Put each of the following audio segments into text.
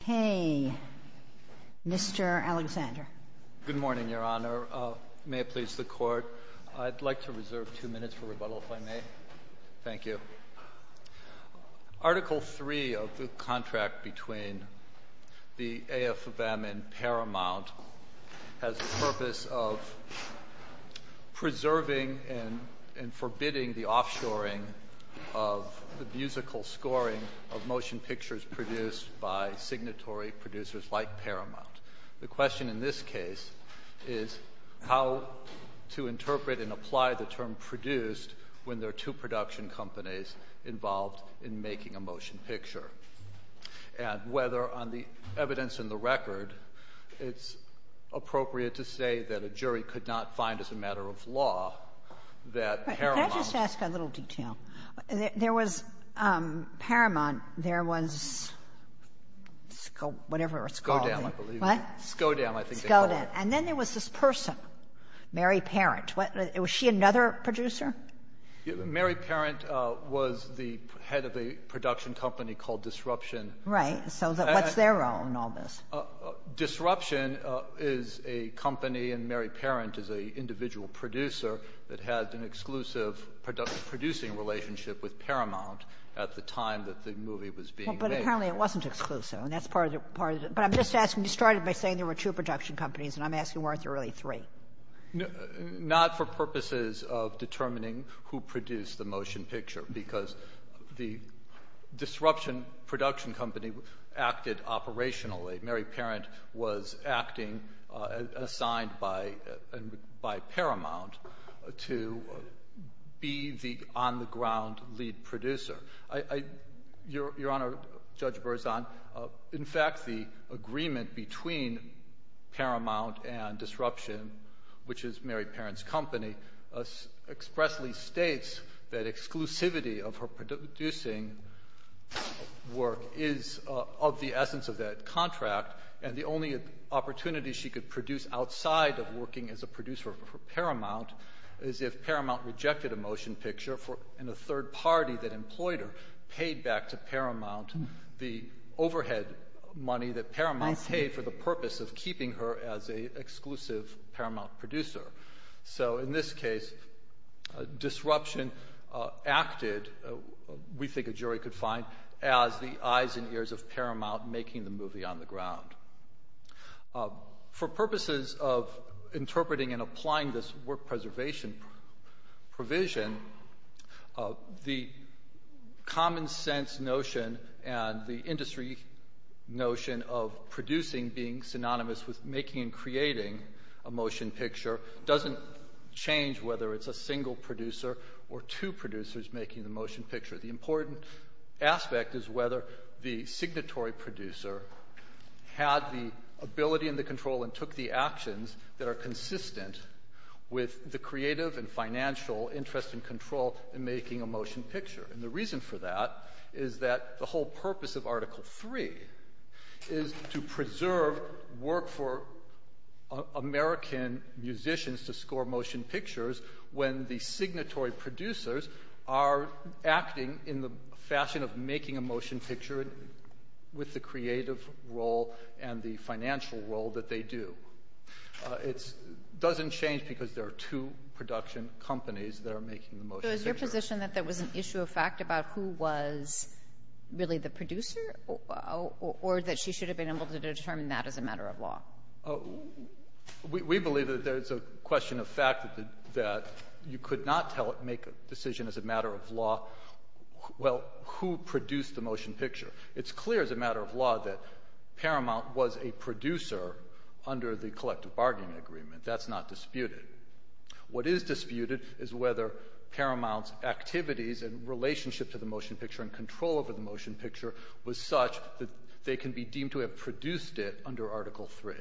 Okay, Mr. Alexander. Good morning, Your Honor. May it please the Court, I'd like to reserve two minutes for rebuttal, if I may. Thank you. Article 3 of the contract between the AFM and Paramount has the purpose of preserving and forbidding the offshoring of the musical scoring of motion pictures produced by signatory producers like Paramount. The question in this case is how to interpret and apply the term produced when there are two production companies involved in making a motion picture, and whether on the evidence in the record it's appropriate to say that a jury could not find as a matter of law that Paramount Can I just ask a little detail? There was Paramount, there was whatever it's called. Skodan, I believe. What? Skodan, I think they called it. Skodan. And then there was this person, Mary Parent. Was she another producer? Mary Parent was the head of a production company called Disruption. Right. So what's their role in all this? Disruption is a company, and Mary Parent is an individual producer that had an exclusive producing relationship with Paramount at the time that the movie was being made. But apparently it wasn't exclusive, and that's part of the – but I'm just asking – you started by saying there were two production companies, and I'm asking, weren't there really three? Not for purposes of determining who produced the motion picture, because the Disruption production company acted operationally. Mary Parent was acting, assigned by Paramount to be the on-the-ground lead producer. Your Honor, Judge Berzon, in fact the agreement between Paramount and Disruption, which is Mary Parent's company, expressly states that exclusivity of her producing work is of the essence of that contract, and the only opportunity she could produce outside of working as a producer for Paramount is if Paramount rejected a motion picture in a third party that employed her, paid back to Paramount the overhead money that Paramount paid for the purpose of keeping her as an exclusive Paramount producer. So in this case, Disruption acted, we think a jury could find, as the eyes and ears of Paramount making the movie on the ground. For purposes of interpreting and applying this work preservation provision, the common sense notion and the industry notion of producing being synonymous with making and creating a motion picture doesn't change whether it's a single producer or two producers making the motion picture. The important aspect is whether the signatory producer had the ability and the control and took the actions that are consistent with the creative and financial interest and control in making a motion picture. And the reason for that is that the whole purpose of Article 3 is to preserve work for American musicians to score motion pictures when the signatory producers are acting in the fashion of making a motion picture with the creative role and the financial role that they do. It doesn't change because there are two production companies that are making the motion picture. So is your position that there was an issue of fact about who was really the producer or that she should have been able to determine that as a matter of law? We believe that there's a question of fact that you could not make a decision as a matter of law, well, who produced the motion picture. It's clear as a matter of law that Paramount was a producer under the collective bargaining agreement. That's not disputed. What is disputed is whether Paramount's activities and relationship to the motion picture and control over the motion picture was such that they can be deemed to have produced it under Article 3.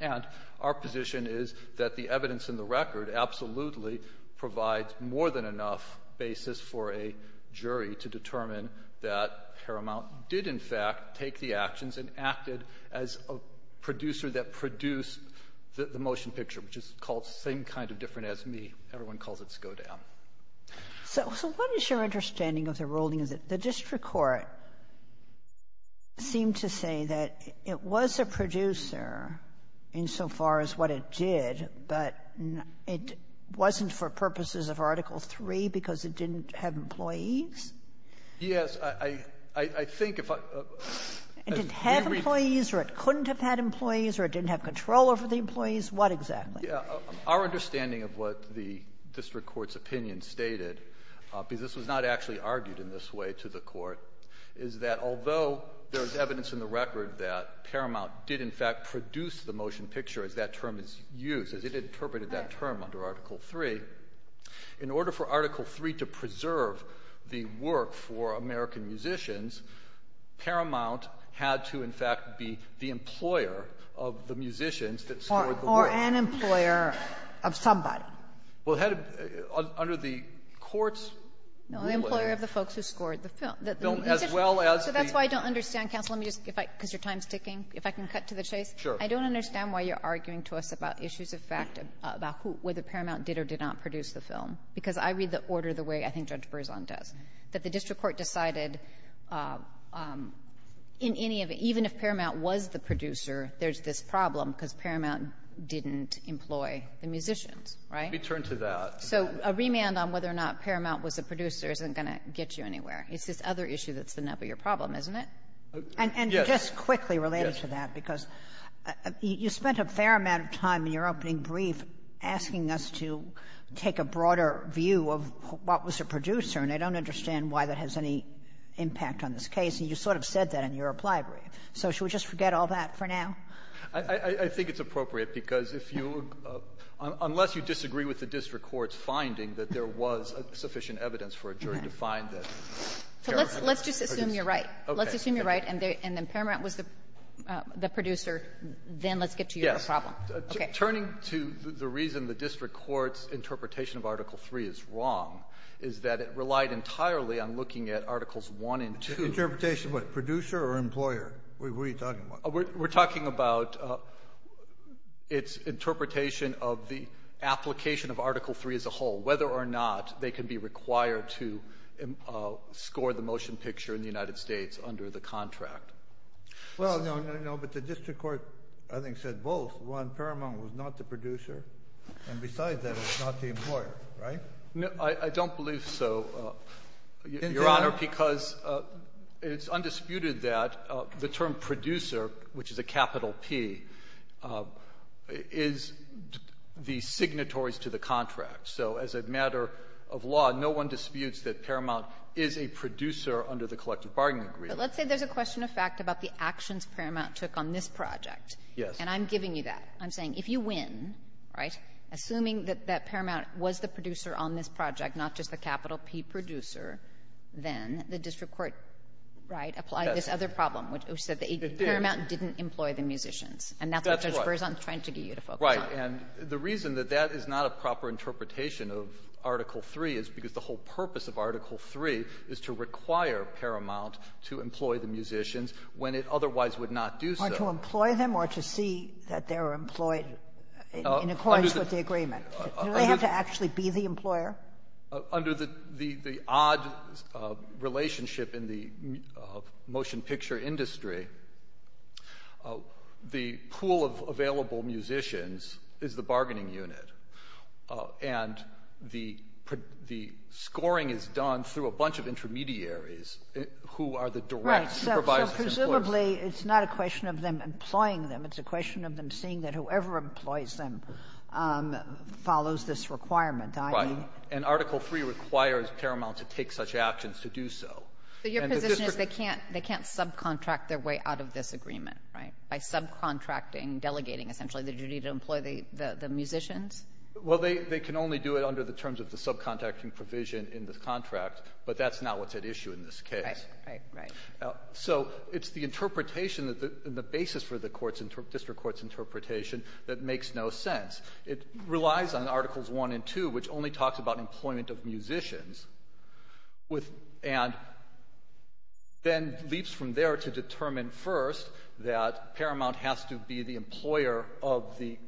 And our position is that the evidence in the record absolutely provides more than enough basis for a jury to determine that Paramount did, in fact, take the actions and acted as a producer that produced the motion picture, which is called the same kind of different as me. Everyone calls it SCODAM. So what is your understanding of the ruling is that the district court seemed to say that it was a producer insofar as what it did, but it wasn't for purposes of Article 3 because it didn't have employees? Yes. I think if I — It didn't have employees or it couldn't have had employees or it didn't have control over the employees? What exactly? Our understanding of what the district court's opinion stated, because this was not actually argued in this way to the court, is that although there is evidence in the record that Paramount did, in fact, produce the motion picture as that term is used, as it interpreted that term under Article 3, in order for Article 3 to preserve the work for American musicians, Paramount had to, in fact, be the employer of the musicians that scored the work. An employer of somebody. Well, under the court's ruling — No. The employer of the folks who scored the film. As well as the — So that's why I don't understand, counsel. Let me just — because your time is ticking, if I can cut to the chase. Sure. I don't understand why you're arguing to us about issues of fact about whether Paramount did or did not produce the film, because I read the order the way I think Judge Berzon does, that the district court decided in any of it, even if Paramount was the producer, there's this problem because Paramount didn't employ the musicians, right? Let me turn to that. So a remand on whether or not Paramount was a producer isn't going to get you anywhere. It's this other issue that's the nub of your problem, isn't it? Yes. And just quickly related to that, because you spent a fair amount of time in your opening brief asking us to take a broader view of what was a producer, and I don't understand why that has any impact on this case. And you sort of said that in your reply brief. So should we just forget all that for now? I think it's appropriate, because if you — unless you disagree with the district court's finding that there was sufficient evidence for a jury to find that Paramount produced the film. So let's just assume you're right. Okay. Let's assume you're right, and then Paramount was the producer. Then let's get to your problem. Yes. Okay. Turning to the reason the district court's interpretation of Article III is wrong is that it relied entirely on looking at Articles I and II. Interpretation of what? Producer or employer? What are you talking about? We're talking about its interpretation of the application of Article III as a whole, whether or not they can be required to score the motion picture in the United States under the contract. Well, no, no, no. But the district court, I think, said both. One, Paramount was not the producer. And besides that, it's not the employer. Right? I don't believe so, Your Honor. Your Honor, because it's undisputed that the term producer, which is a capital P, is the signatories to the contract. So as a matter of law, no one disputes that Paramount is a producer under the collective bargaining agreement. But let's say there's a question of fact about the actions Paramount took on this project. Yes. And I'm giving you that. I'm saying if you win, right, assuming that Paramount was the producer on this project, not just the capital P producer, then the district court, right, applied this other problem, which said that Paramount didn't employ the musicians. And that's what this verse I'm trying to get you to focus on. Right. And the reason that that is not a proper interpretation of Article III is because the whole purpose of Article III is to require Paramount to employ the musicians when it otherwise would not do so. Or to employ them or to see that they're employed in accordance with the agreement. Do they have to actually be the employer? Under the odd relationship in the motion picture industry, the pool of available musicians is the bargaining unit. And the scoring is done through a bunch of intermediaries who are the direct supervisors. Right. So presumably it's not a question of them employing them. It's a question of them seeing that whoever employs them follows this requirement, i.e. Right. And Article III requires Paramount to take such actions to do so. So your position is they can't subcontract their way out of this agreement, right, by subcontracting, delegating, essentially, the duty to employ the musicians? Well, they can only do it under the terms of the subcontracting provision in the contract, but that's not what's at issue in this case. Right, right, right. So it's the interpretation and the basis for the district court's interpretation that makes no sense. It relies on Articles I and II, which only talks about employment of musicians, and then leaps from there to determine first that Paramount has to be the employer of the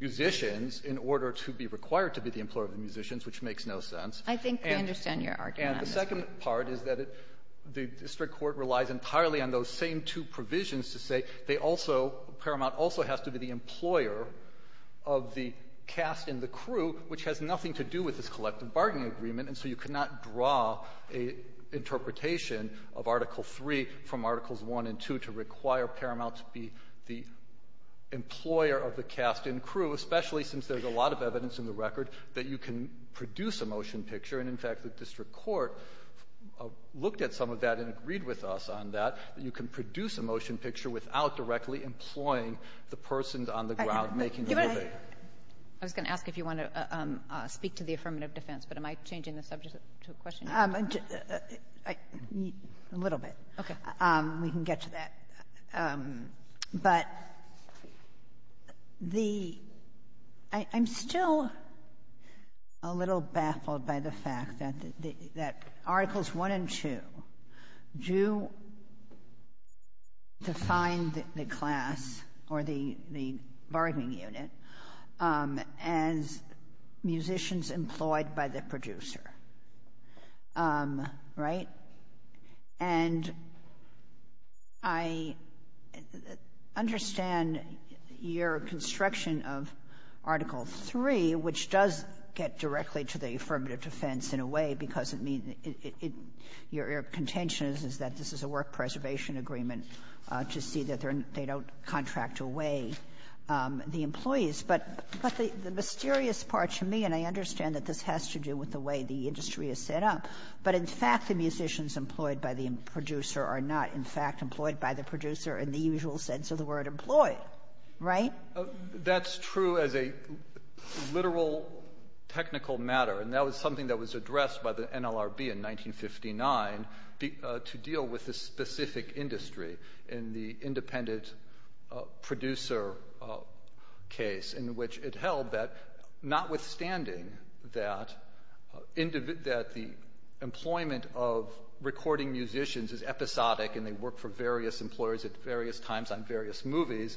musicians in order to be required to be the employer of the musicians, which makes no sense. I think I understand your argument. And the second part is that the district court relies entirely on those same two provisions to say they also, Paramount also has to be the employer of the cast and the crew, which has nothing to do with this collective bargaining agreement. And so you cannot draw an interpretation of Article III from Articles I and II to require Paramount to be the employer of the cast and crew, especially since there's a lot of evidence in the record that you can produce a motion picture. And, in fact, the district court looked at some of that and agreed with us on that, that you can produce a motion picture without directly employing the persons on the ground making the decision. I was going to ask if you want to speak to the affirmative defense, but am I changing the subject to a question? A little bit. Okay. We can get to that. But I'm still a little baffled by the fact that Articles I and II do define the class or the bargaining unit as musicians employed by the producer, right? And I understand your construction of Article III, which does get directly to the affirmative defense in a way because it means it your contention is that this is a work preservation agreement to see that they don't contract away the employees. But the mysterious part to me, and I understand that this has to do with the way the musicians employed by the producer are not, in fact, employed by the producer in the usual sense of the word employed, right? That's true as a literal technical matter, and that was something that was addressed by the NLRB in 1959 to deal with this specific industry in the independent producer case in which it held that notwithstanding that the employment of recording musicians is episodic and they work for various employers at various times on various movies,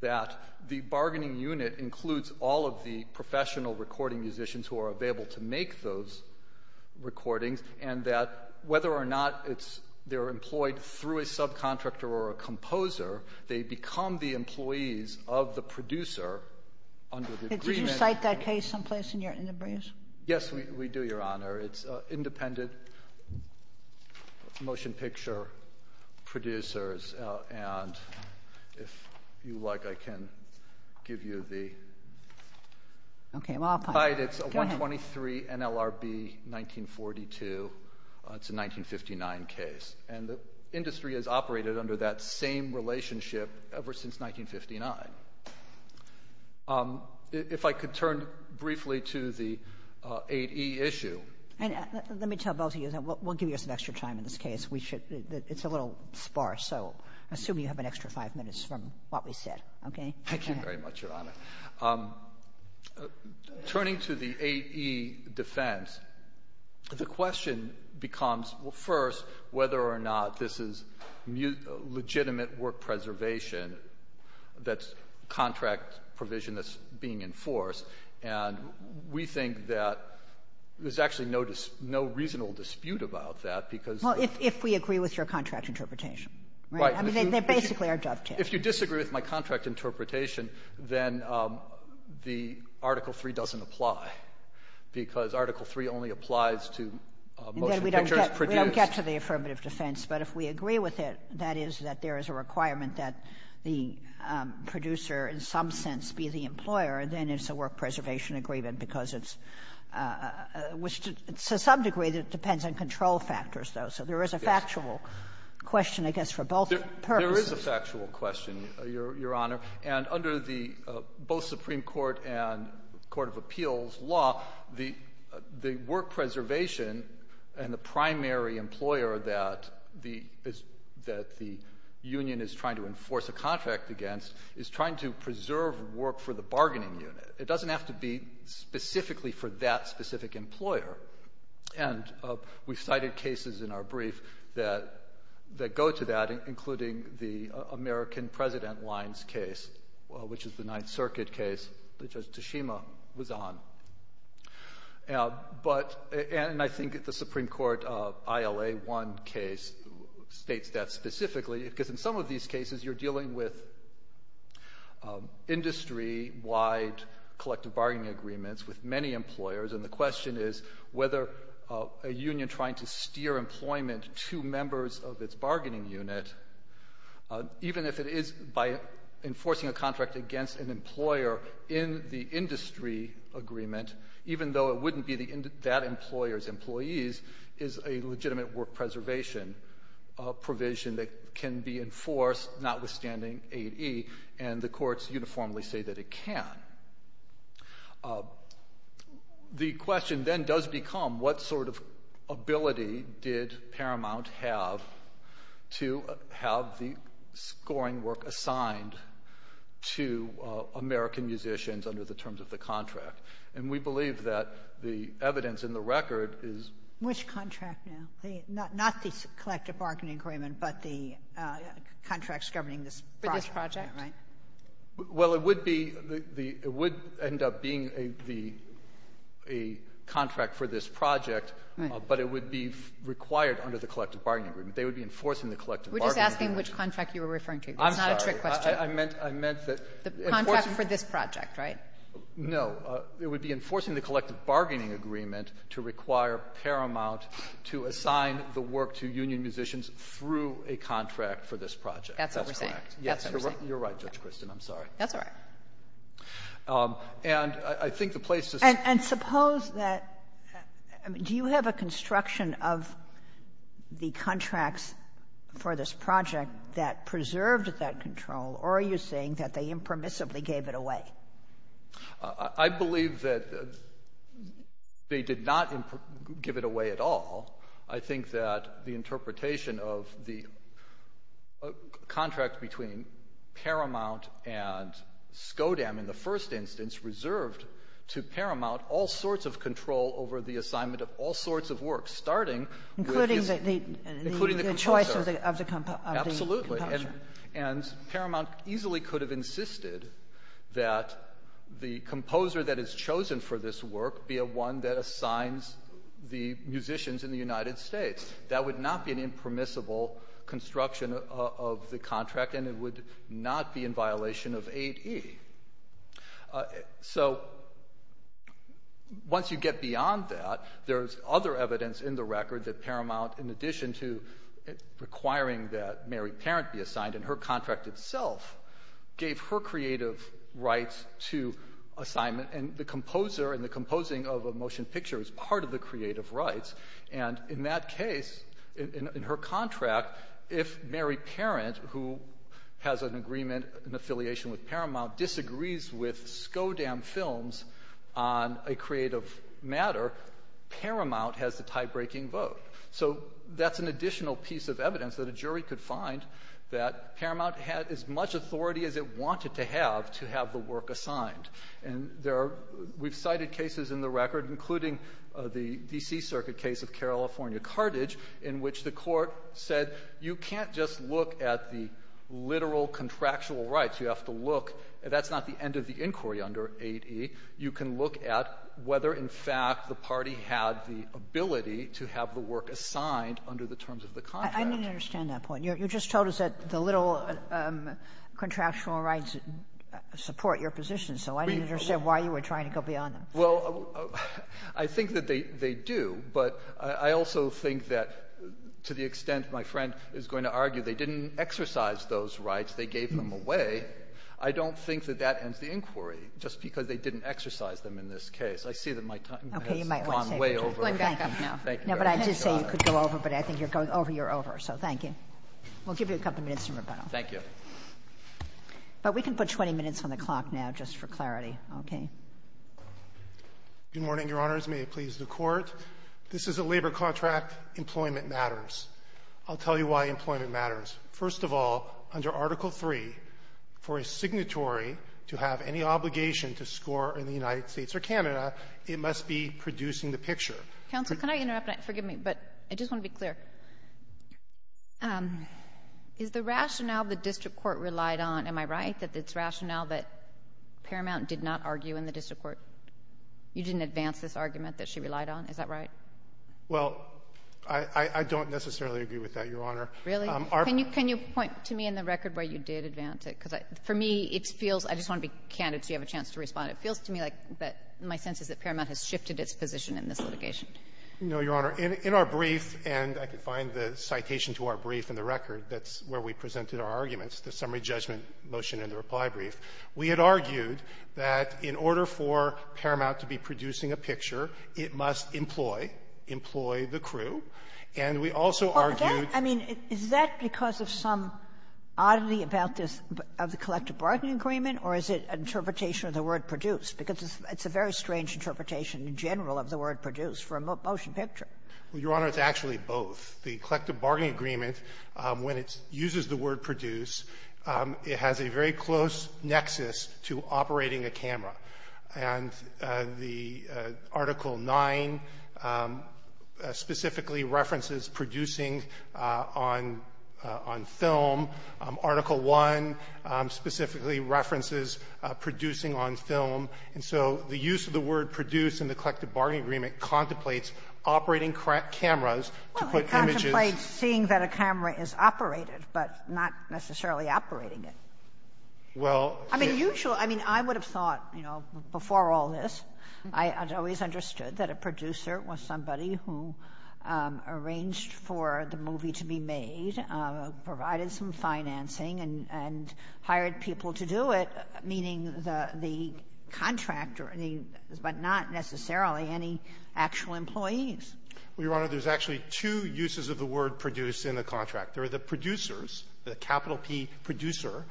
that the bargaining unit includes all of the professional recording musicians who are available to make those recordings and that whether or not they're employed through a subcontractor or a composer, they become the employees of the producer under the agreement. Did you cite that case someplace in the briefs? Yes, we do, Your Honor. It's independent motion picture producers. And if you like, I can give you the… Okay, well, I'll find it. Go ahead. It's 123 NLRB 1942. It's a 1959 case, and the industry has operated under that same relationship ever since 1959. If I could turn briefly to the 8E issue. And let me tell both of you that we'll give you some extra time in this case. It's a little sparse, so I assume you have an extra five minutes from what we said, okay? Thank you very much, Your Honor. Turning to the 8E defense, the question becomes, well, first, whether or not this is legitimate work preservation that's contract provision that's being enforced. And we think that there's actually no reasonable dispute about that because… Well, if we agree with your contract interpretation. Right. I mean, they basically are dovetails. If you disagree with my contract interpretation, then the Article III doesn't apply because Article III only applies to motion pictures produced. We don't get to the affirmative defense. But if we agree with it, that is that there is a requirement that the producer in some sense be the employer, then it's a work preservation agreement because it's to some degree that it depends on control factors, though. So there is a factual question, I guess, for both purposes. There is a factual question, Your Honor. And under the both Supreme Court and court of appeals law, the work preservation and the primary employer that the union is trying to enforce a contract against is trying to preserve work for the bargaining unit. It doesn't have to be specifically for that specific employer. And we've cited cases in our brief that go to that, including the American President Lyons case, which is the Ninth Circuit case that Judge Tashima was on. And I think the Supreme Court ILA-1 case states that specifically because in some of these cases, you're dealing with industry-wide collective bargaining agreements with many employers, and the question is whether a union trying to steer employment to members of its bargaining unit, even if it is by enforcing a contract against an employer in the industry agreement, even though it wouldn't be that employer's employees, is a legitimate work preservation provision that can be enforced, notwithstanding 8e, and the courts uniformly say that it can. The question then does become what sort of ability did Paramount have to have the scoring work assigned to American musicians under the terms of the contract? And we believe that the evidence in the record is... Which contract now? Not the collective bargaining agreement, but the contracts governing this project, right? Well, it would end up being a contract for this project, but it would be required under the collective bargaining agreement. They would be enforcing the collective bargaining agreement. We're just asking which contract you were referring to. I'm sorry. It's not a trick question. I meant that... The contract for this project, right? No. It would be enforcing the collective bargaining agreement to require Paramount to assign the work to union musicians through a contract for this project. That's what we're saying. Yes, you're right, Judge Kristin. I'm sorry. That's all right. And I think the place to say... And suppose that do you have a construction of the contracts for this project that preserved that control, or are you saying that they impermissibly gave it away? I believe that they did not give it away at all. I think that the interpretation of the contract between Paramount and SCODAM in the first instance reserved to Paramount all sorts of control over the assignment of all sorts of work, starting with... Including the choice of the composer. Absolutely. And Paramount easily could have insisted that the composer that is chosen for this work be one that assigns the musicians in the United States. That would not be an impermissible construction of the contract, and it would not be in violation of 8E. So once you get beyond that, there's other evidence in the record that Paramount, in addition to requiring that Mary Parent be assigned in her contract itself, gave her creative rights to assignment. And the composer and the composing of a motion picture is part of the creative rights. And in that case, in her contract, if Mary Parent, who has an agreement in affiliation with Paramount, disagrees with SCODAM Films on a creative matter, Paramount has the tie-breaking vote. So that's an additional piece of evidence that a jury could find that Paramount had as much authority as it wanted to have to have the work assigned. And there are we've cited cases in the record, including the D.C. Circuit case of California Carthage, in which the Court said you can't just look at the literal contractual rights. You have to look. That's not the end of the inquiry under 8E. You can look at whether, in fact, the party had the ability to have the work assigned under the terms of the contract. Kagan. I didn't understand that point. You just told us that the little contractual rights support your position, so I didn't understand why you were trying to go beyond them. Well, I think that they do, but I also think that to the extent my friend is going to argue they didn't exercise those rights, they gave them away, I don't think that that ends the inquiry, just because they didn't exercise them in this case. I see that my time has gone way over. Thank you. No, but I did say you could go over, but I think you're going over, you're over, so thank you. We'll give you a couple minutes in rebuttal. Thank you. But we can put 20 minutes on the clock now just for clarity. Okay. Good morning, Your Honors. May it please the Court. This is a labor contract. Employment matters. I'll tell you why employment matters. First of all, under Article III, for a signatory to have any obligation to score in the United States or Canada, it must be producing the picture. Counsel, can I interrupt? Forgive me, but I just want to be clear. Is the rationale the district court relied on, am I right, that it's rationale that Paramount did not argue in the district court? You didn't advance this argument that she relied on? Is that right? Well, I don't necessarily agree with that, Your Honor. Really? Can you point to me in the record where you did advance it? Because for me, it feels — I just want to be candid so you have a chance to respond. It feels to me like my sense is that Paramount has shifted its position in this litigation. No, Your Honor. In our brief, and I could find the citation to our brief in the record, that's where we presented our arguments, the summary judgment motion in the reply brief. We had argued that in order for Paramount to be producing a picture, it must employ — employ the crew. And we also argued — Well, is that — I mean, is that because of some oddity about this — of the collective bargaining agreement, or is it an interpretation of the word produced? Because it's a very strange interpretation in general of the word produced for a motion picture. Well, Your Honor, it's actually both. The collective bargaining agreement, when it uses the word produced, it has a very close nexus to operating a camera. And the Article 9 specifically references producing on — on film. Article 1 specifically references producing on film. And so the use of the word produced in the collective bargaining agreement contemplates operating cameras to put images — Well, it contemplates seeing that a camera is operated, but not necessarily operating it. I mean, usual — I mean, I would have thought, you know, before all this, I had always understood that a producer was somebody who arranged for the movie to be made, provided some financing, and — and hired people to do it, meaning the — the contractor, but not necessarily any actual employees. Well, Your Honor, there's actually two uses of the word produced in the contract. There are the producers, the capital P, Producer,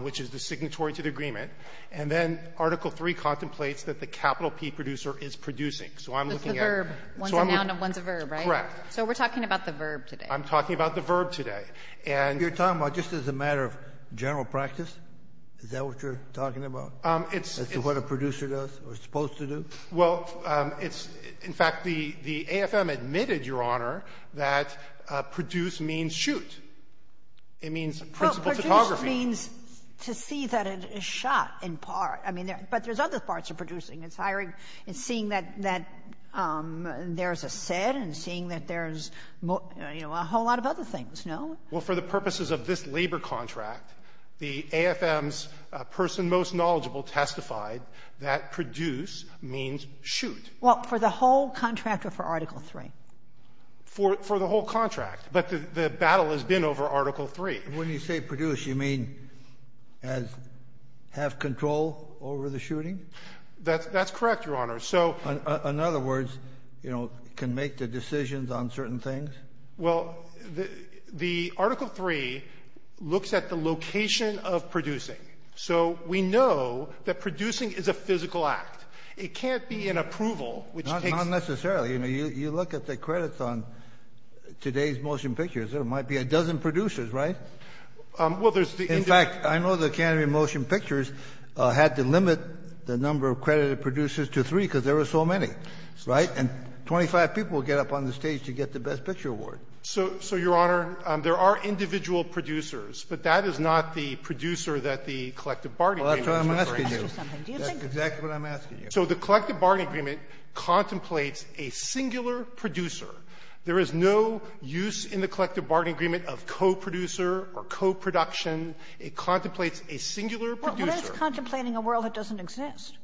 which is the signatory to the agreement. And then Article 3 contemplates that the capital P, Producer, is producing. So I'm looking at — But the verb, one's a noun and one's a verb, right? Correct. So we're talking about the verb today. I'm talking about the verb today. And — You're talking about just as a matter of general practice? Is that what you're talking about? It's — As to what a producer does or is supposed to do? Well, it's — in fact, the AFM admitted, Your Honor, that produced means shoot. It means principal photography. Well, produced means to see that it is shot in part. I mean, there — but there's other parts of producing. It's hiring — it's seeing that — that there's a set and seeing that there's, you know, a whole lot of other things, no? Well, for the purposes of this labor contract, the AFM's person most knowledgeable testified that produce means shoot. Well, for the whole contract or for Article 3? For — for the whole contract. But the battle has been over Article 3. When you say produce, you mean as — have control over the shooting? That's — that's correct, Your Honor. So — In other words, you know, can make the decisions on certain things? Well, the — the Article 3 looks at the location of producing. So we know that producing is a physical act. It can't be an approval, which takes — Not necessarily. I mean, you look at the credits on today's motion pictures. There might be a dozen producers, right? Well, there's the — In fact, I know the Canterbury Motion Pictures had to limit the number of credited producers to three because there were so many, right? And 25 people get up on the stage to get the Best Picture Award. So — so, Your Honor, there are individual producers, but that is not the producer that the collective bargaining agreement is referring to. Well, that's what I'm asking you. That's exactly what I'm asking you. So the collective bargaining agreement contemplates a singular producer. There is no use in the collective bargaining agreement of coproducer or coproduction. It contemplates a singular producer. Well, that's contemplating a world that doesn't exist.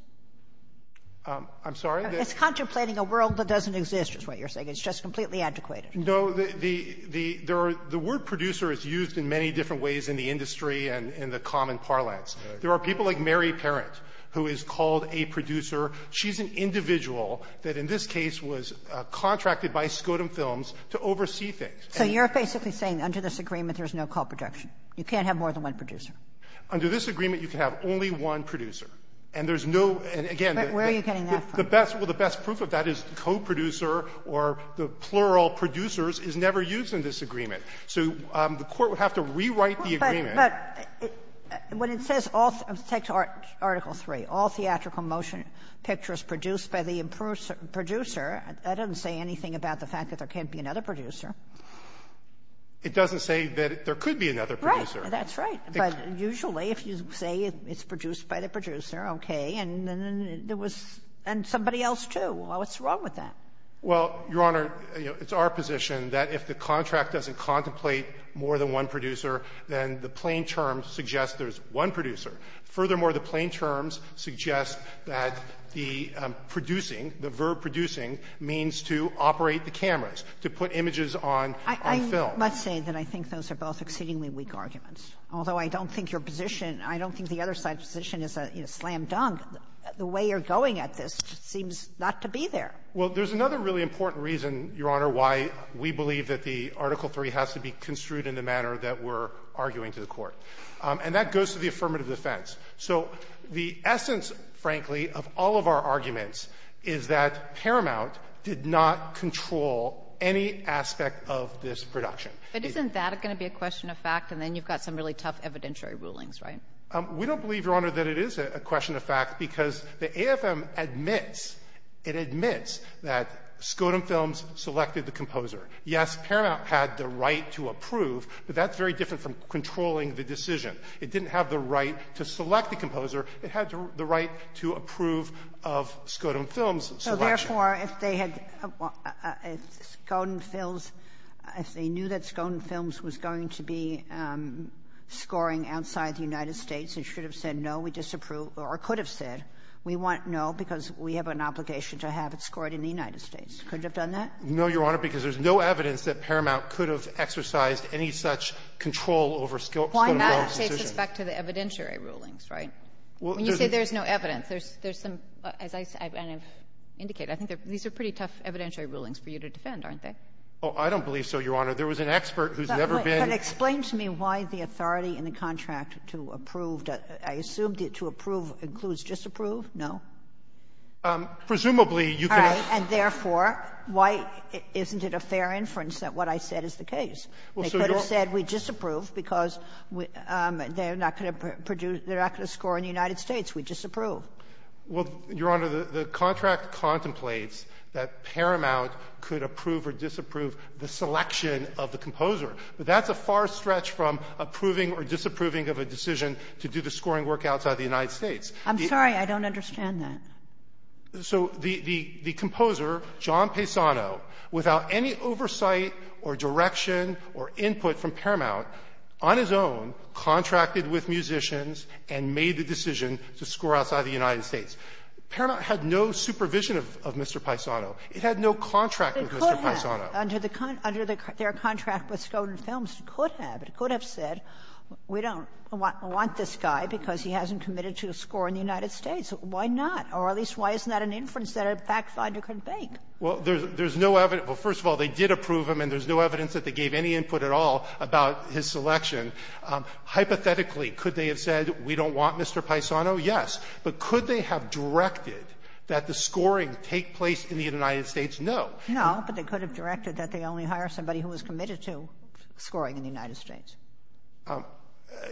I'm sorry? It's contemplating a world that doesn't exist, is what you're saying. It's just completely adequate. No, the — the — the word producer is used in many different ways in the industry and in the common parlance. There are people like Mary Parent, who is called a producer. She's an individual that in this case was contracted by Skodom Films to oversee things. So you're basically saying under this agreement, there's no coproduction. You can't have more than one producer. Under this agreement, you can have only one producer. And there's no — and, again, the best — Where are you getting that from? Well, the best proof of that is the coproducer or the plural producers is never used in this agreement. So the Court would have to rewrite the agreement. But when it says all — take Article III, all theatrical motion pictures produced by the producer, that doesn't say anything about the fact that there can't be another producer. It doesn't say that there could be another producer. Right. That's right. But usually, if you say it's produced by the producer, okay. And then there was — and somebody else, too. What's wrong with that? Well, Your Honor, it's our position that if the contract doesn't contemplate more than one producer, then the plain terms suggest there's one producer. Furthermore, the plain terms suggest that the producing, the verb producing, means to operate the cameras, to put images on film. I must say that I think those are both exceedingly weak arguments. Although I don't think your position — I don't think the other side's position is slam-dunk. The way you're going at this seems not to be there. Well, there's another really important reason, Your Honor, why we believe that the matter that we're arguing to the Court. And that goes to the affirmative defense. So the essence, frankly, of all of our arguments is that Paramount did not control any aspect of this production. But isn't that going to be a question of fact? And then you've got some really tough evidentiary rulings, right? We don't believe, Your Honor, that it is a question of fact, because the AFM admits — it admits that Skodom Films selected the composer. Yes, Paramount had the right to approve, but that's very different from controlling the decision. It didn't have the right to select the composer. It had the right to approve of Skodom Films' selection. So, therefore, if they had — if Skodom Films — if they knew that Skodom Films was going to be scoring outside the United States, they should have said, no, we disapprove or could have said, we want no because we have an obligation to have it scored in the United States. Could it have done that? No, Your Honor, because there's no evidence that Paramount could have exercised any such control over Skodom Films' decision. Why not say suspect to the evidentiary rulings, right? When you say there's no evidence, there's some, as I've indicated, I think these are pretty tough evidentiary rulings for you to defend, aren't they? Oh, I don't believe so, Your Honor. There was an expert who's never been — But explain to me why the authority in the contract to approve — I assumed it to approve includes disapprove. No? Presumably, you can — And therefore, why isn't it a fair inference that what I said is the case? They could have said we disapprove because they're not going to produce — they're not going to score in the United States. We disapprove. Well, Your Honor, the contract contemplates that Paramount could approve or disapprove the selection of the composer, but that's a far stretch from approving or disapproving of a decision to do the scoring work outside the United States. I'm sorry. I don't understand that. So the composer, John Paisano, without any oversight or direction or input from Paramount, on his own, contracted with musicians and made the decision to score outside of the United States. Paramount had no supervision of Mr. Paisano. It had no contract with Mr. Paisano. It could have, under their contract with Skodan Films. It could have. It could have said we don't want this guy because he hasn't committed to a score in the United States. Why not? Or at least why isn't that an inference that a fact finder couldn't make? Well, there's no evidence. Well, first of all, they did approve him, and there's no evidence that they gave any input at all about his selection. Hypothetically, could they have said we don't want Mr. Paisano? Yes. But could they have directed that the scoring take place in the United States? No. No, but they could have directed that they only hire somebody who was committed to scoring in the United States.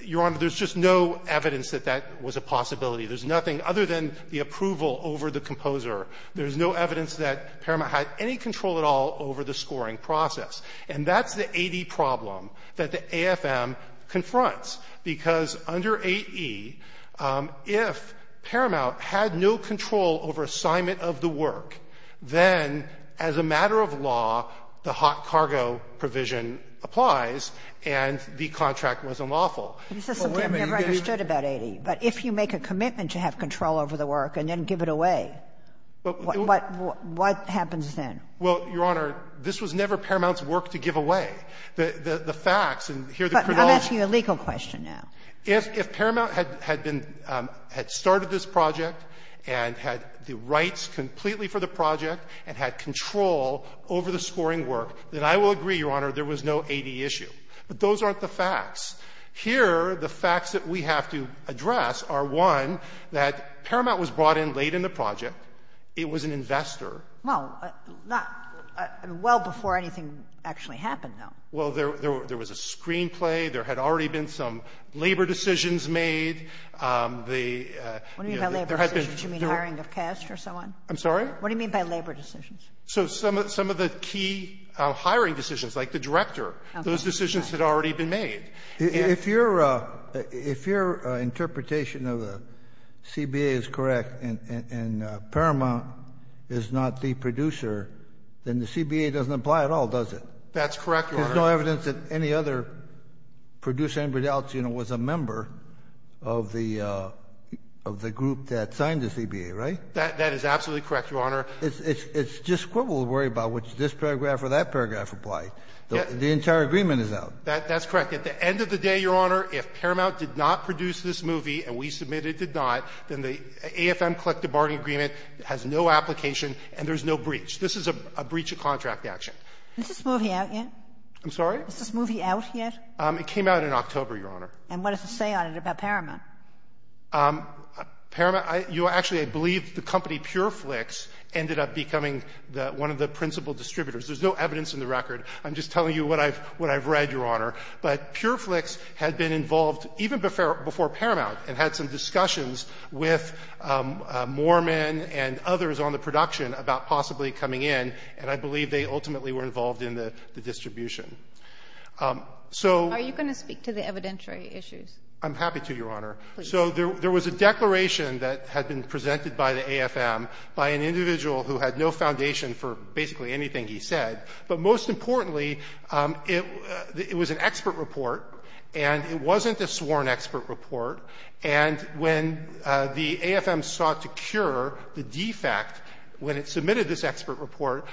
Your Honor, there's just no evidence that that was a possibility. There's nothing other than the approval over the composer. There's no evidence that Paramount had any control at all over the scoring process. And that's the 80 problem that the AFM confronts, because under 8e, if Paramount had no control over assignment of the work, then as a matter of law, the hot cargo provision applies and the contract was unlawful. But if you make a commitment to have control over the work and then give it away, what happens then? Well, Your Honor, this was never Paramount's work to give away. The facts and here the credulity But I'm asking you a legal question now. If Paramount had been, had started this project and had the rights completely for the project and had control over the scoring work, then I will agree, Your Honor, there was no 80 issue. But those aren't the facts. Here, the facts that we have to address are, one, that Paramount was brought in late in the project. It was an investor. Well, not well before anything actually happened, though. Well, there was a screenplay. There had already been some labor decisions made. The you know, there had been. What do you mean by labor decisions? Do you mean hiring of cast or someone? I'm sorry? What do you mean by labor decisions? So some of the key hiring decisions, like the director, those decisions had already been made. If you're if your interpretation of the CBA is correct and Paramount is not the producer, then the CBA doesn't apply at all, does it? That's correct. There's no evidence that any other producer, anybody else, you know, was a member of the of the group that signed the CBA, right? That is absolutely correct, Your Honor. It's just what we'll worry about, which this paragraph or that paragraph apply. The entire agreement is out. That's correct. At the end of the day, Your Honor, if Paramount did not produce this movie and we submit it did not, then the AFM collective bargaining agreement has no application and there's no breach. This is a breach of contract action. Is this movie out yet? I'm sorry? Is this movie out yet? It came out in October, Your Honor. And what does it say on it about Paramount? Paramount, you know, actually I believe the company Pure Flix ended up becoming the one of the principal distributors. There's no evidence in the record. I'm just telling you what I've what I've read, Your Honor. But Pure Flix had been involved even before Paramount and had some discussions with Moorman and others on the production about possibly coming in, and I believe they ultimately were involved in the distribution. So are you going to speak to the evidentiary issues? I'm happy to, Your Honor. So there was a declaration that had been presented by the AFM by an individual who had no foundation for basically anything he said. But most importantly, it was an expert report, and it wasn't a sworn expert report. And when the AFM sought to cure the defect when it submitted this expert report,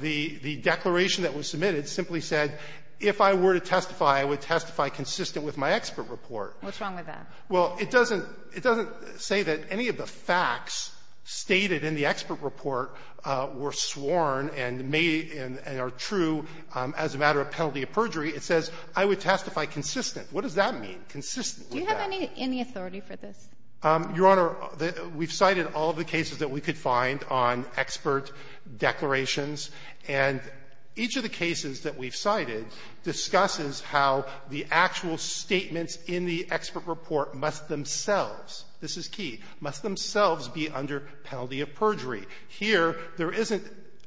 the declaration that was submitted simply said, if I were to testify, I would testify consistent with my expert report. What's wrong with that? Well, it doesn't say that any of the facts stated in the expert report were sworn and made and are true as a matter of penalty of perjury. It says, I would testify consistent. What does that mean, consistent with that? Do you have any authority for this? Your Honor, we've cited all of the cases that we could find on expert declarations, and each of the cases that we've cited discusses how the actual statements in the expert report must themselves – this is key – must themselves be under penalty of perjury. Here, there isn't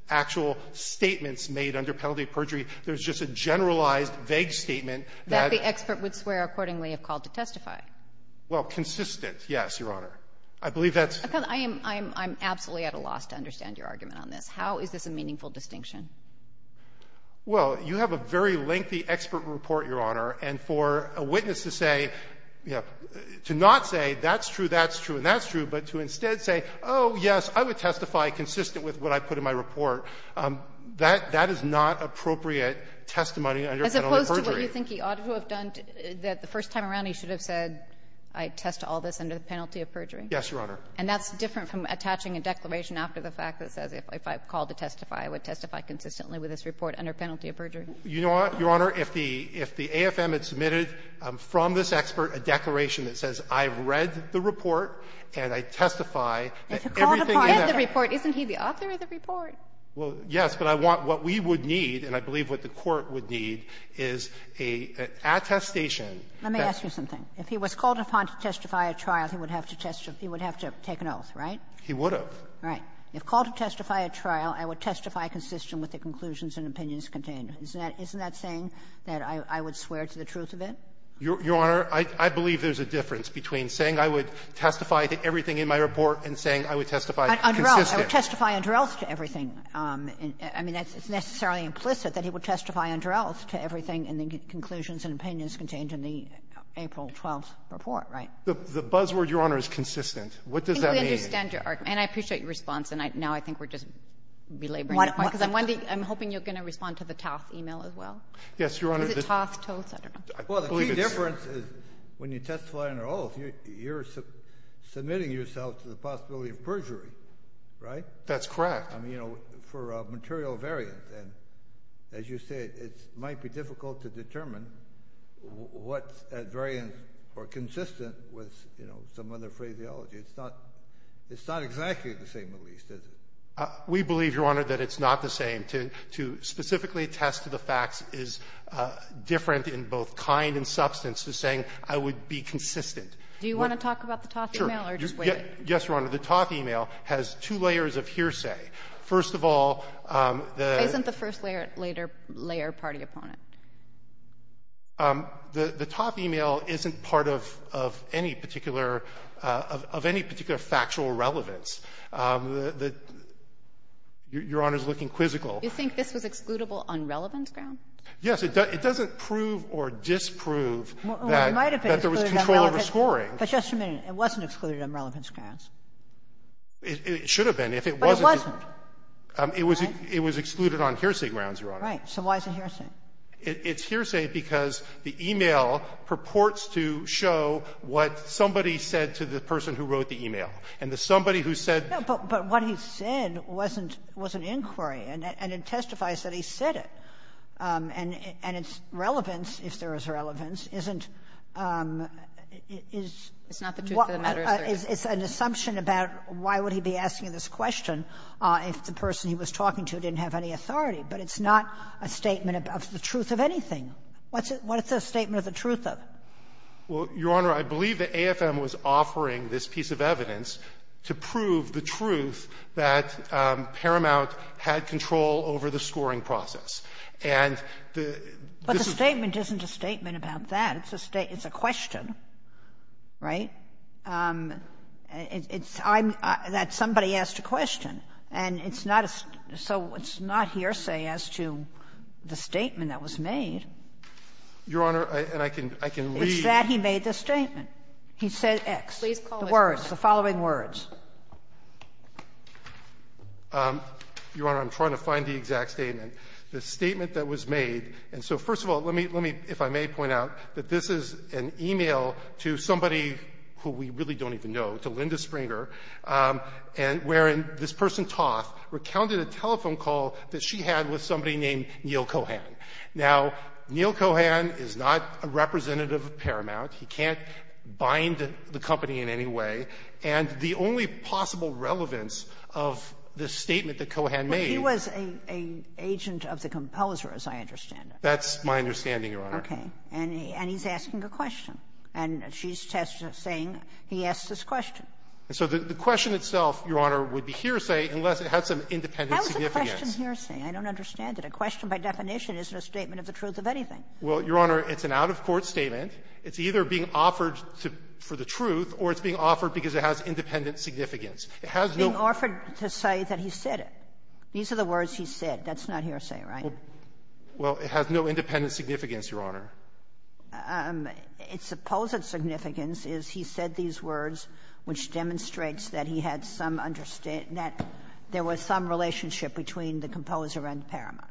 actual statements made under penalty of perjury. There's just a generalized, vague statement that – That the expert would swear accordingly if called to testify. Well, consistent, yes, Your Honor. I believe that's – I'm absolutely at a loss to understand your argument on this. How is this a meaningful distinction? Well, you have a very lengthy expert report, Your Honor, and for a witness to say – to not say that's true, that's true, and that's true, but to instead say, oh, yes, I would testify consistent with what I put in my report, that is not appropriate testimony under penalty of perjury. As opposed to what you think he ought to have done, that the first time around he should have said, I test all this under the penalty of perjury. Yes, Your Honor. And that's different from attaching a declaration after the fact that says if I called to testify, I would testify consistently with this report under penalty of perjury. You know what, Your Honor? If the AFM had submitted from this expert a declaration that says I've read the report and I testify that everything in that – If he called upon to read the report, isn't he the author of the report? Well, yes, but I want what we would need, and I believe what the Court would need, is an attestation that – Let me ask you something. If he was called upon to testify at trial, he would have to testify – he would have to take an oath, right? He would have. Right. If called to testify at trial, I would testify consistent with the conclusions and opinions contained. Isn't that – isn't that saying that I would swear to the truth of it? Your Honor, I believe there's a difference between saying I would testify to everything in my report and saying I would testify consistent. I would testify under oath to everything. I mean, it's necessarily implicit that he would testify under oath to everything in the conclusions and opinions contained in the April 12th report, right? The buzzword, Your Honor, is consistent. What does that mean? I think we understand your argument, and I appreciate your response, and now I think we're just belaboring the point. Because I'm hoping you're going to respond to the Toth email as well. Yes, Your Honor. Is it Toth, Toth? I don't know. Well, the key difference is when you testify under oath, you're submitting yourself to the possibility of perjury, right? That's correct. I mean, you know, for a material variant. And as you said, it might be difficult to determine what variants are consistent with, you know, some other phraseology. It's not – it's not exactly the same, at least, is it? We believe, Your Honor, that it's not the same. To specifically attest to the facts is different in both kind and substance to saying I would be consistent. Do you want to talk about the Toth email or just wait? Yes, Your Honor. The Toth email has two layers of hearsay. First of all, the — Isn't the first layer a party opponent? The Toth email isn't part of any particular – of any particular factual relevance. The – Your Honor's looking quizzical. You think this was excludable on relevance grounds? Yes. It doesn't prove or disprove that there was control over scoring. But just a minute. It wasn't excluded on relevance grounds. It should have been if it wasn't. But it wasn't, right? It was excluded on hearsay grounds, Your Honor. Right. So why is it hearsay? It's hearsay because the email purports to show what somebody said to the person who wrote the email. And the somebody who said – No, but what he said wasn't – wasn't inquiry. And it testifies that he said it. And its relevance, if there is relevance, isn't – is – It's not the truth of the matter, is there? It's an assumption about why would he be asking this question if the person he was talking to didn't have any authority. But it's not a statement of the truth of anything. What's it – what is the statement of the truth of? Well, Your Honor, I believe that AFM was offering this piece of evidence to prove the truth that Paramount had control over the scoring process. And the – But the statement isn't a statement about that. It's a state – it's a question, right? It's – I'm – that somebody asked a question. And it's not a – so it's not hearsay as to the statement that was made. Your Honor, and I can – I can read – It's that he made the statement. He said X. Please call it out. The words, the following words. Your Honor, I'm trying to find the exact statement. The statement that was made – and so, first of all, let me – let me, if I may point out, that this is an email to somebody who we really don't even know, to Linda Springer, and – wherein this person, Toth, recounted a telephone call that she had with somebody named Neil Cohan. Now, Neil Cohan is not a representative of Paramount. He can't bind the company in any way. And the only possible relevance of the statement that Cohan made – Well, he was an agent of the compelsor, as I understand it. That's my understanding, Your Honor. Okay. And he's asking a question. And she's saying he asked this question. So the question itself, Your Honor, would be hearsay unless it had some independent significance. How is the question hearsay? I don't understand it. A question, by definition, isn't a statement of the truth of anything. Well, Your Honor, it's an out-of-court statement. It's either being offered to – for the truth, or it's being offered because it has independent significance. It has no – Being offered to say that he said it. These are the words he said. That's not hearsay, right? Well, it has no independent significance, Your Honor. Its supposed significance is he said these words, which demonstrates that he had some understating that there was some relationship between the compelsor and Paramount.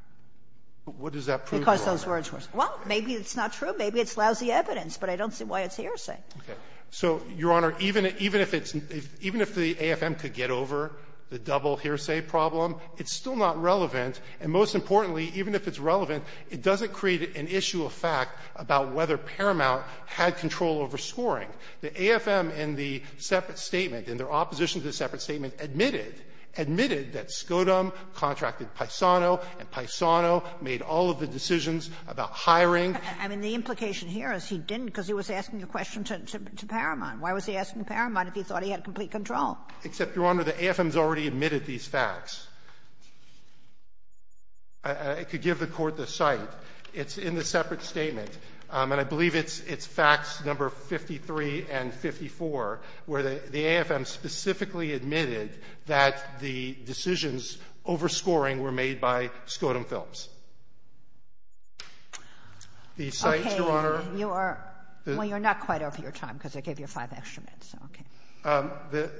What does that prove, Your Honor? Because those words were – well, maybe it's not true. Maybe it's lousy evidence. But I don't see why it's hearsay. Okay. So, Your Honor, even if it's – even if the AFM could get over the double hearsay problem, it's still not relevant. And most importantly, even if it's relevant, it doesn't create an issue of fact about whether Paramount had control over scoring. The AFM in the separate statement, in their opposition to the separate statement, admitted – admitted that Scodom contracted Paisano, and Paisano made all of the decisions about hiring. I mean, the implication here is he didn't because he was asking a question to Paramount. Why was he asking Paramount if he thought he had complete control? Except, Your Honor, the AFM's already admitted these facts. It could give the Court the cite. It's in the separate statement. And I believe it's – it's facts number 53 and 54, where the AFM specifically admitted that the decisions over scoring were made by Scodom Films. The cite, Your Honor – Okay. You are – well, you're not quite over your time because I gave you five extra minutes, so okay.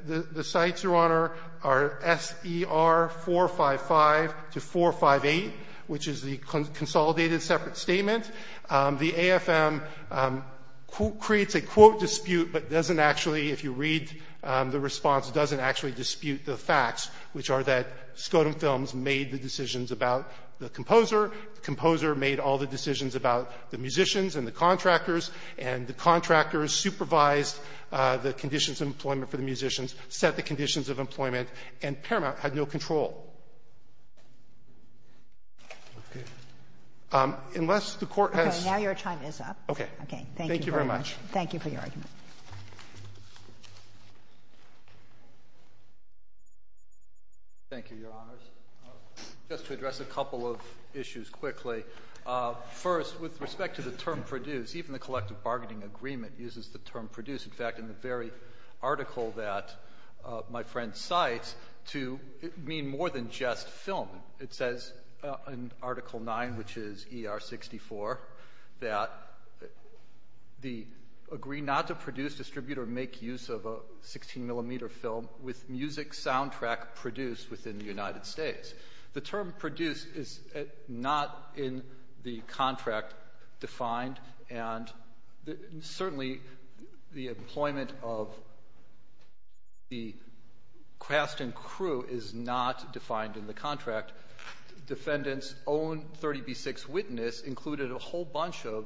The – the cites, Your Honor, are S.E.R. 455 to 458, which is the consolidated separate statement. The AFM creates a quote dispute but doesn't actually, if you read the response, doesn't actually dispute the facts, which are that Scodom Films made the decisions about the composer. The composer made all the decisions about the musicians and the contractors, and the contractors supervised the conditions of employment for the musicians, set the conditions of employment, and Paramount had no control. Unless the Court has to say otherwise, I don't think I have any more questions. Okay. Now your time is up. Okay. Okay. Thank you very much. Thank you for your argument. Thank you, Your Honors. Just to address a couple of issues quickly. First, with respect to the term produce, even the collective bargaining agreement uses the term produce. In fact, in the very article that my friend cites, to mean more than just film. It says in Article 9, which is ER 64, that the agree not to produce, distribute, or make use of a 16 millimeter film with music soundtrack produced within the United States. The term produce is not in the contract defined, and certainly the employment of the cast and crew is not defined in the contract. Defendant's own 30B6 witness included a whole bunch of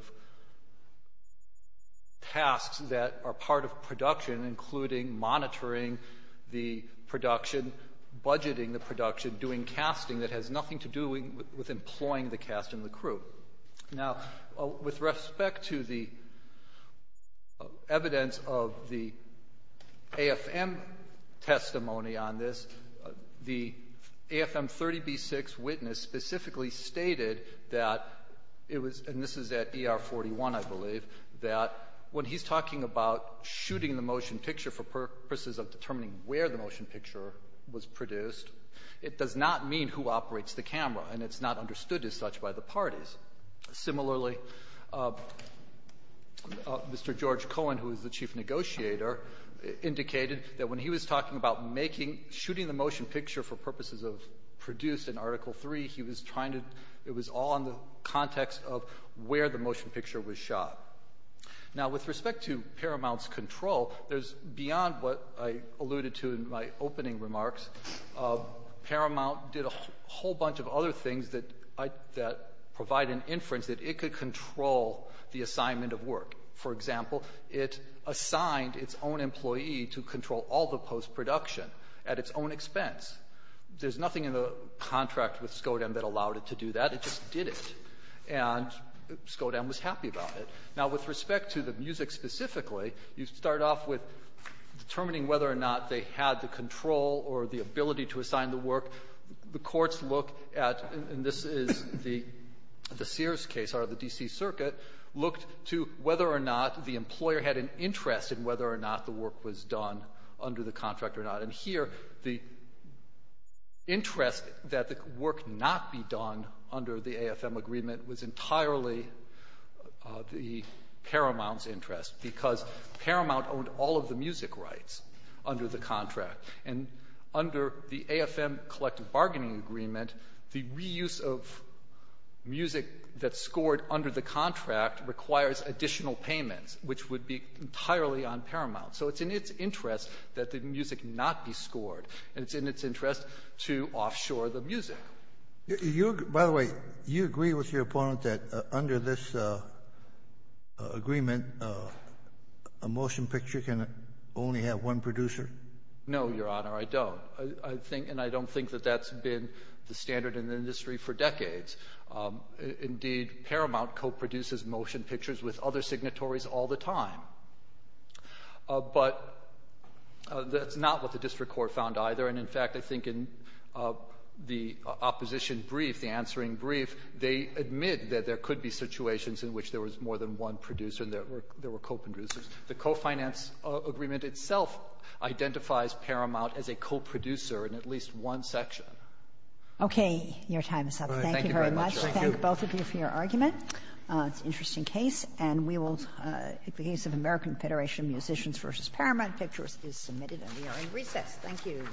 tasks that are part of production, including monitoring the production, budgeting the production, doing casting that has nothing to do with employing the cast and the crew. Now, with respect to the evidence of the AFM testimony on this, the AFM 30B6 witness specifically stated that it was, and this is at ER 41, I believe, that when he's talking about shooting the motion picture for purposes of determining where the motion picture was produced, it does not mean who operates the camera, and it's not understood as such by the parties. Similarly, Mr. George Cohen, who is the chief negotiator, indicated that when he was talking about making, shooting the motion picture for purposes of produced in Article 3, he was trying to, it was all in the context of where the motion picture was shot. Now with respect to Paramount's control, there's, beyond what I alluded to in my opening remarks, Paramount did a whole bunch of other things that provide an inference that it could control the assignment of work. For example, it assigned its own employee to control all the post-production at its own expense. There's nothing in the contract with Skodan that allowed it to do that. It just did it, and Skodan was happy about it. Now with respect to the music specifically, you start off with determining whether or not the control or the ability to assign the work, the courts look at, and this is the Sears case out of the D.C. Circuit, looked to whether or not the employer had an interest in whether or not the work was done under the contract or not, and here the interest that the work not be done under the AFM agreement was entirely the Paramount's interest, because Paramount owned all of the music rights under the contract, and under the AFM collective bargaining agreement, the reuse of music that scored under the contract requires additional payments, which would be entirely on Paramount. So it's in its interest that the music not be scored, and it's in its interest to offshore the music. You, by the way, you agree with your opponent that under this agreement, a motion picture can only have one producer? No, Your Honor, I don't. I think, and I don't think that that's been the standard in the industry for decades. Indeed, Paramount co-produces motion pictures with other signatories all the time, but that's not what the district court found either, and, in fact, I think in the opposition brief, the answering brief, they admit that there could be situations in which there was more than one producer and there were co-producers. The co-finance agreement itself identifies Paramount as a co-producer in at least one section. Okay. Your time is up. Thank you very much. Thank you. Thank both of you for your argument. It's an interesting case, and we will, in the case of American Federation Musicians v. Paramount, pictures is submitted, and we are in recess. Thank you.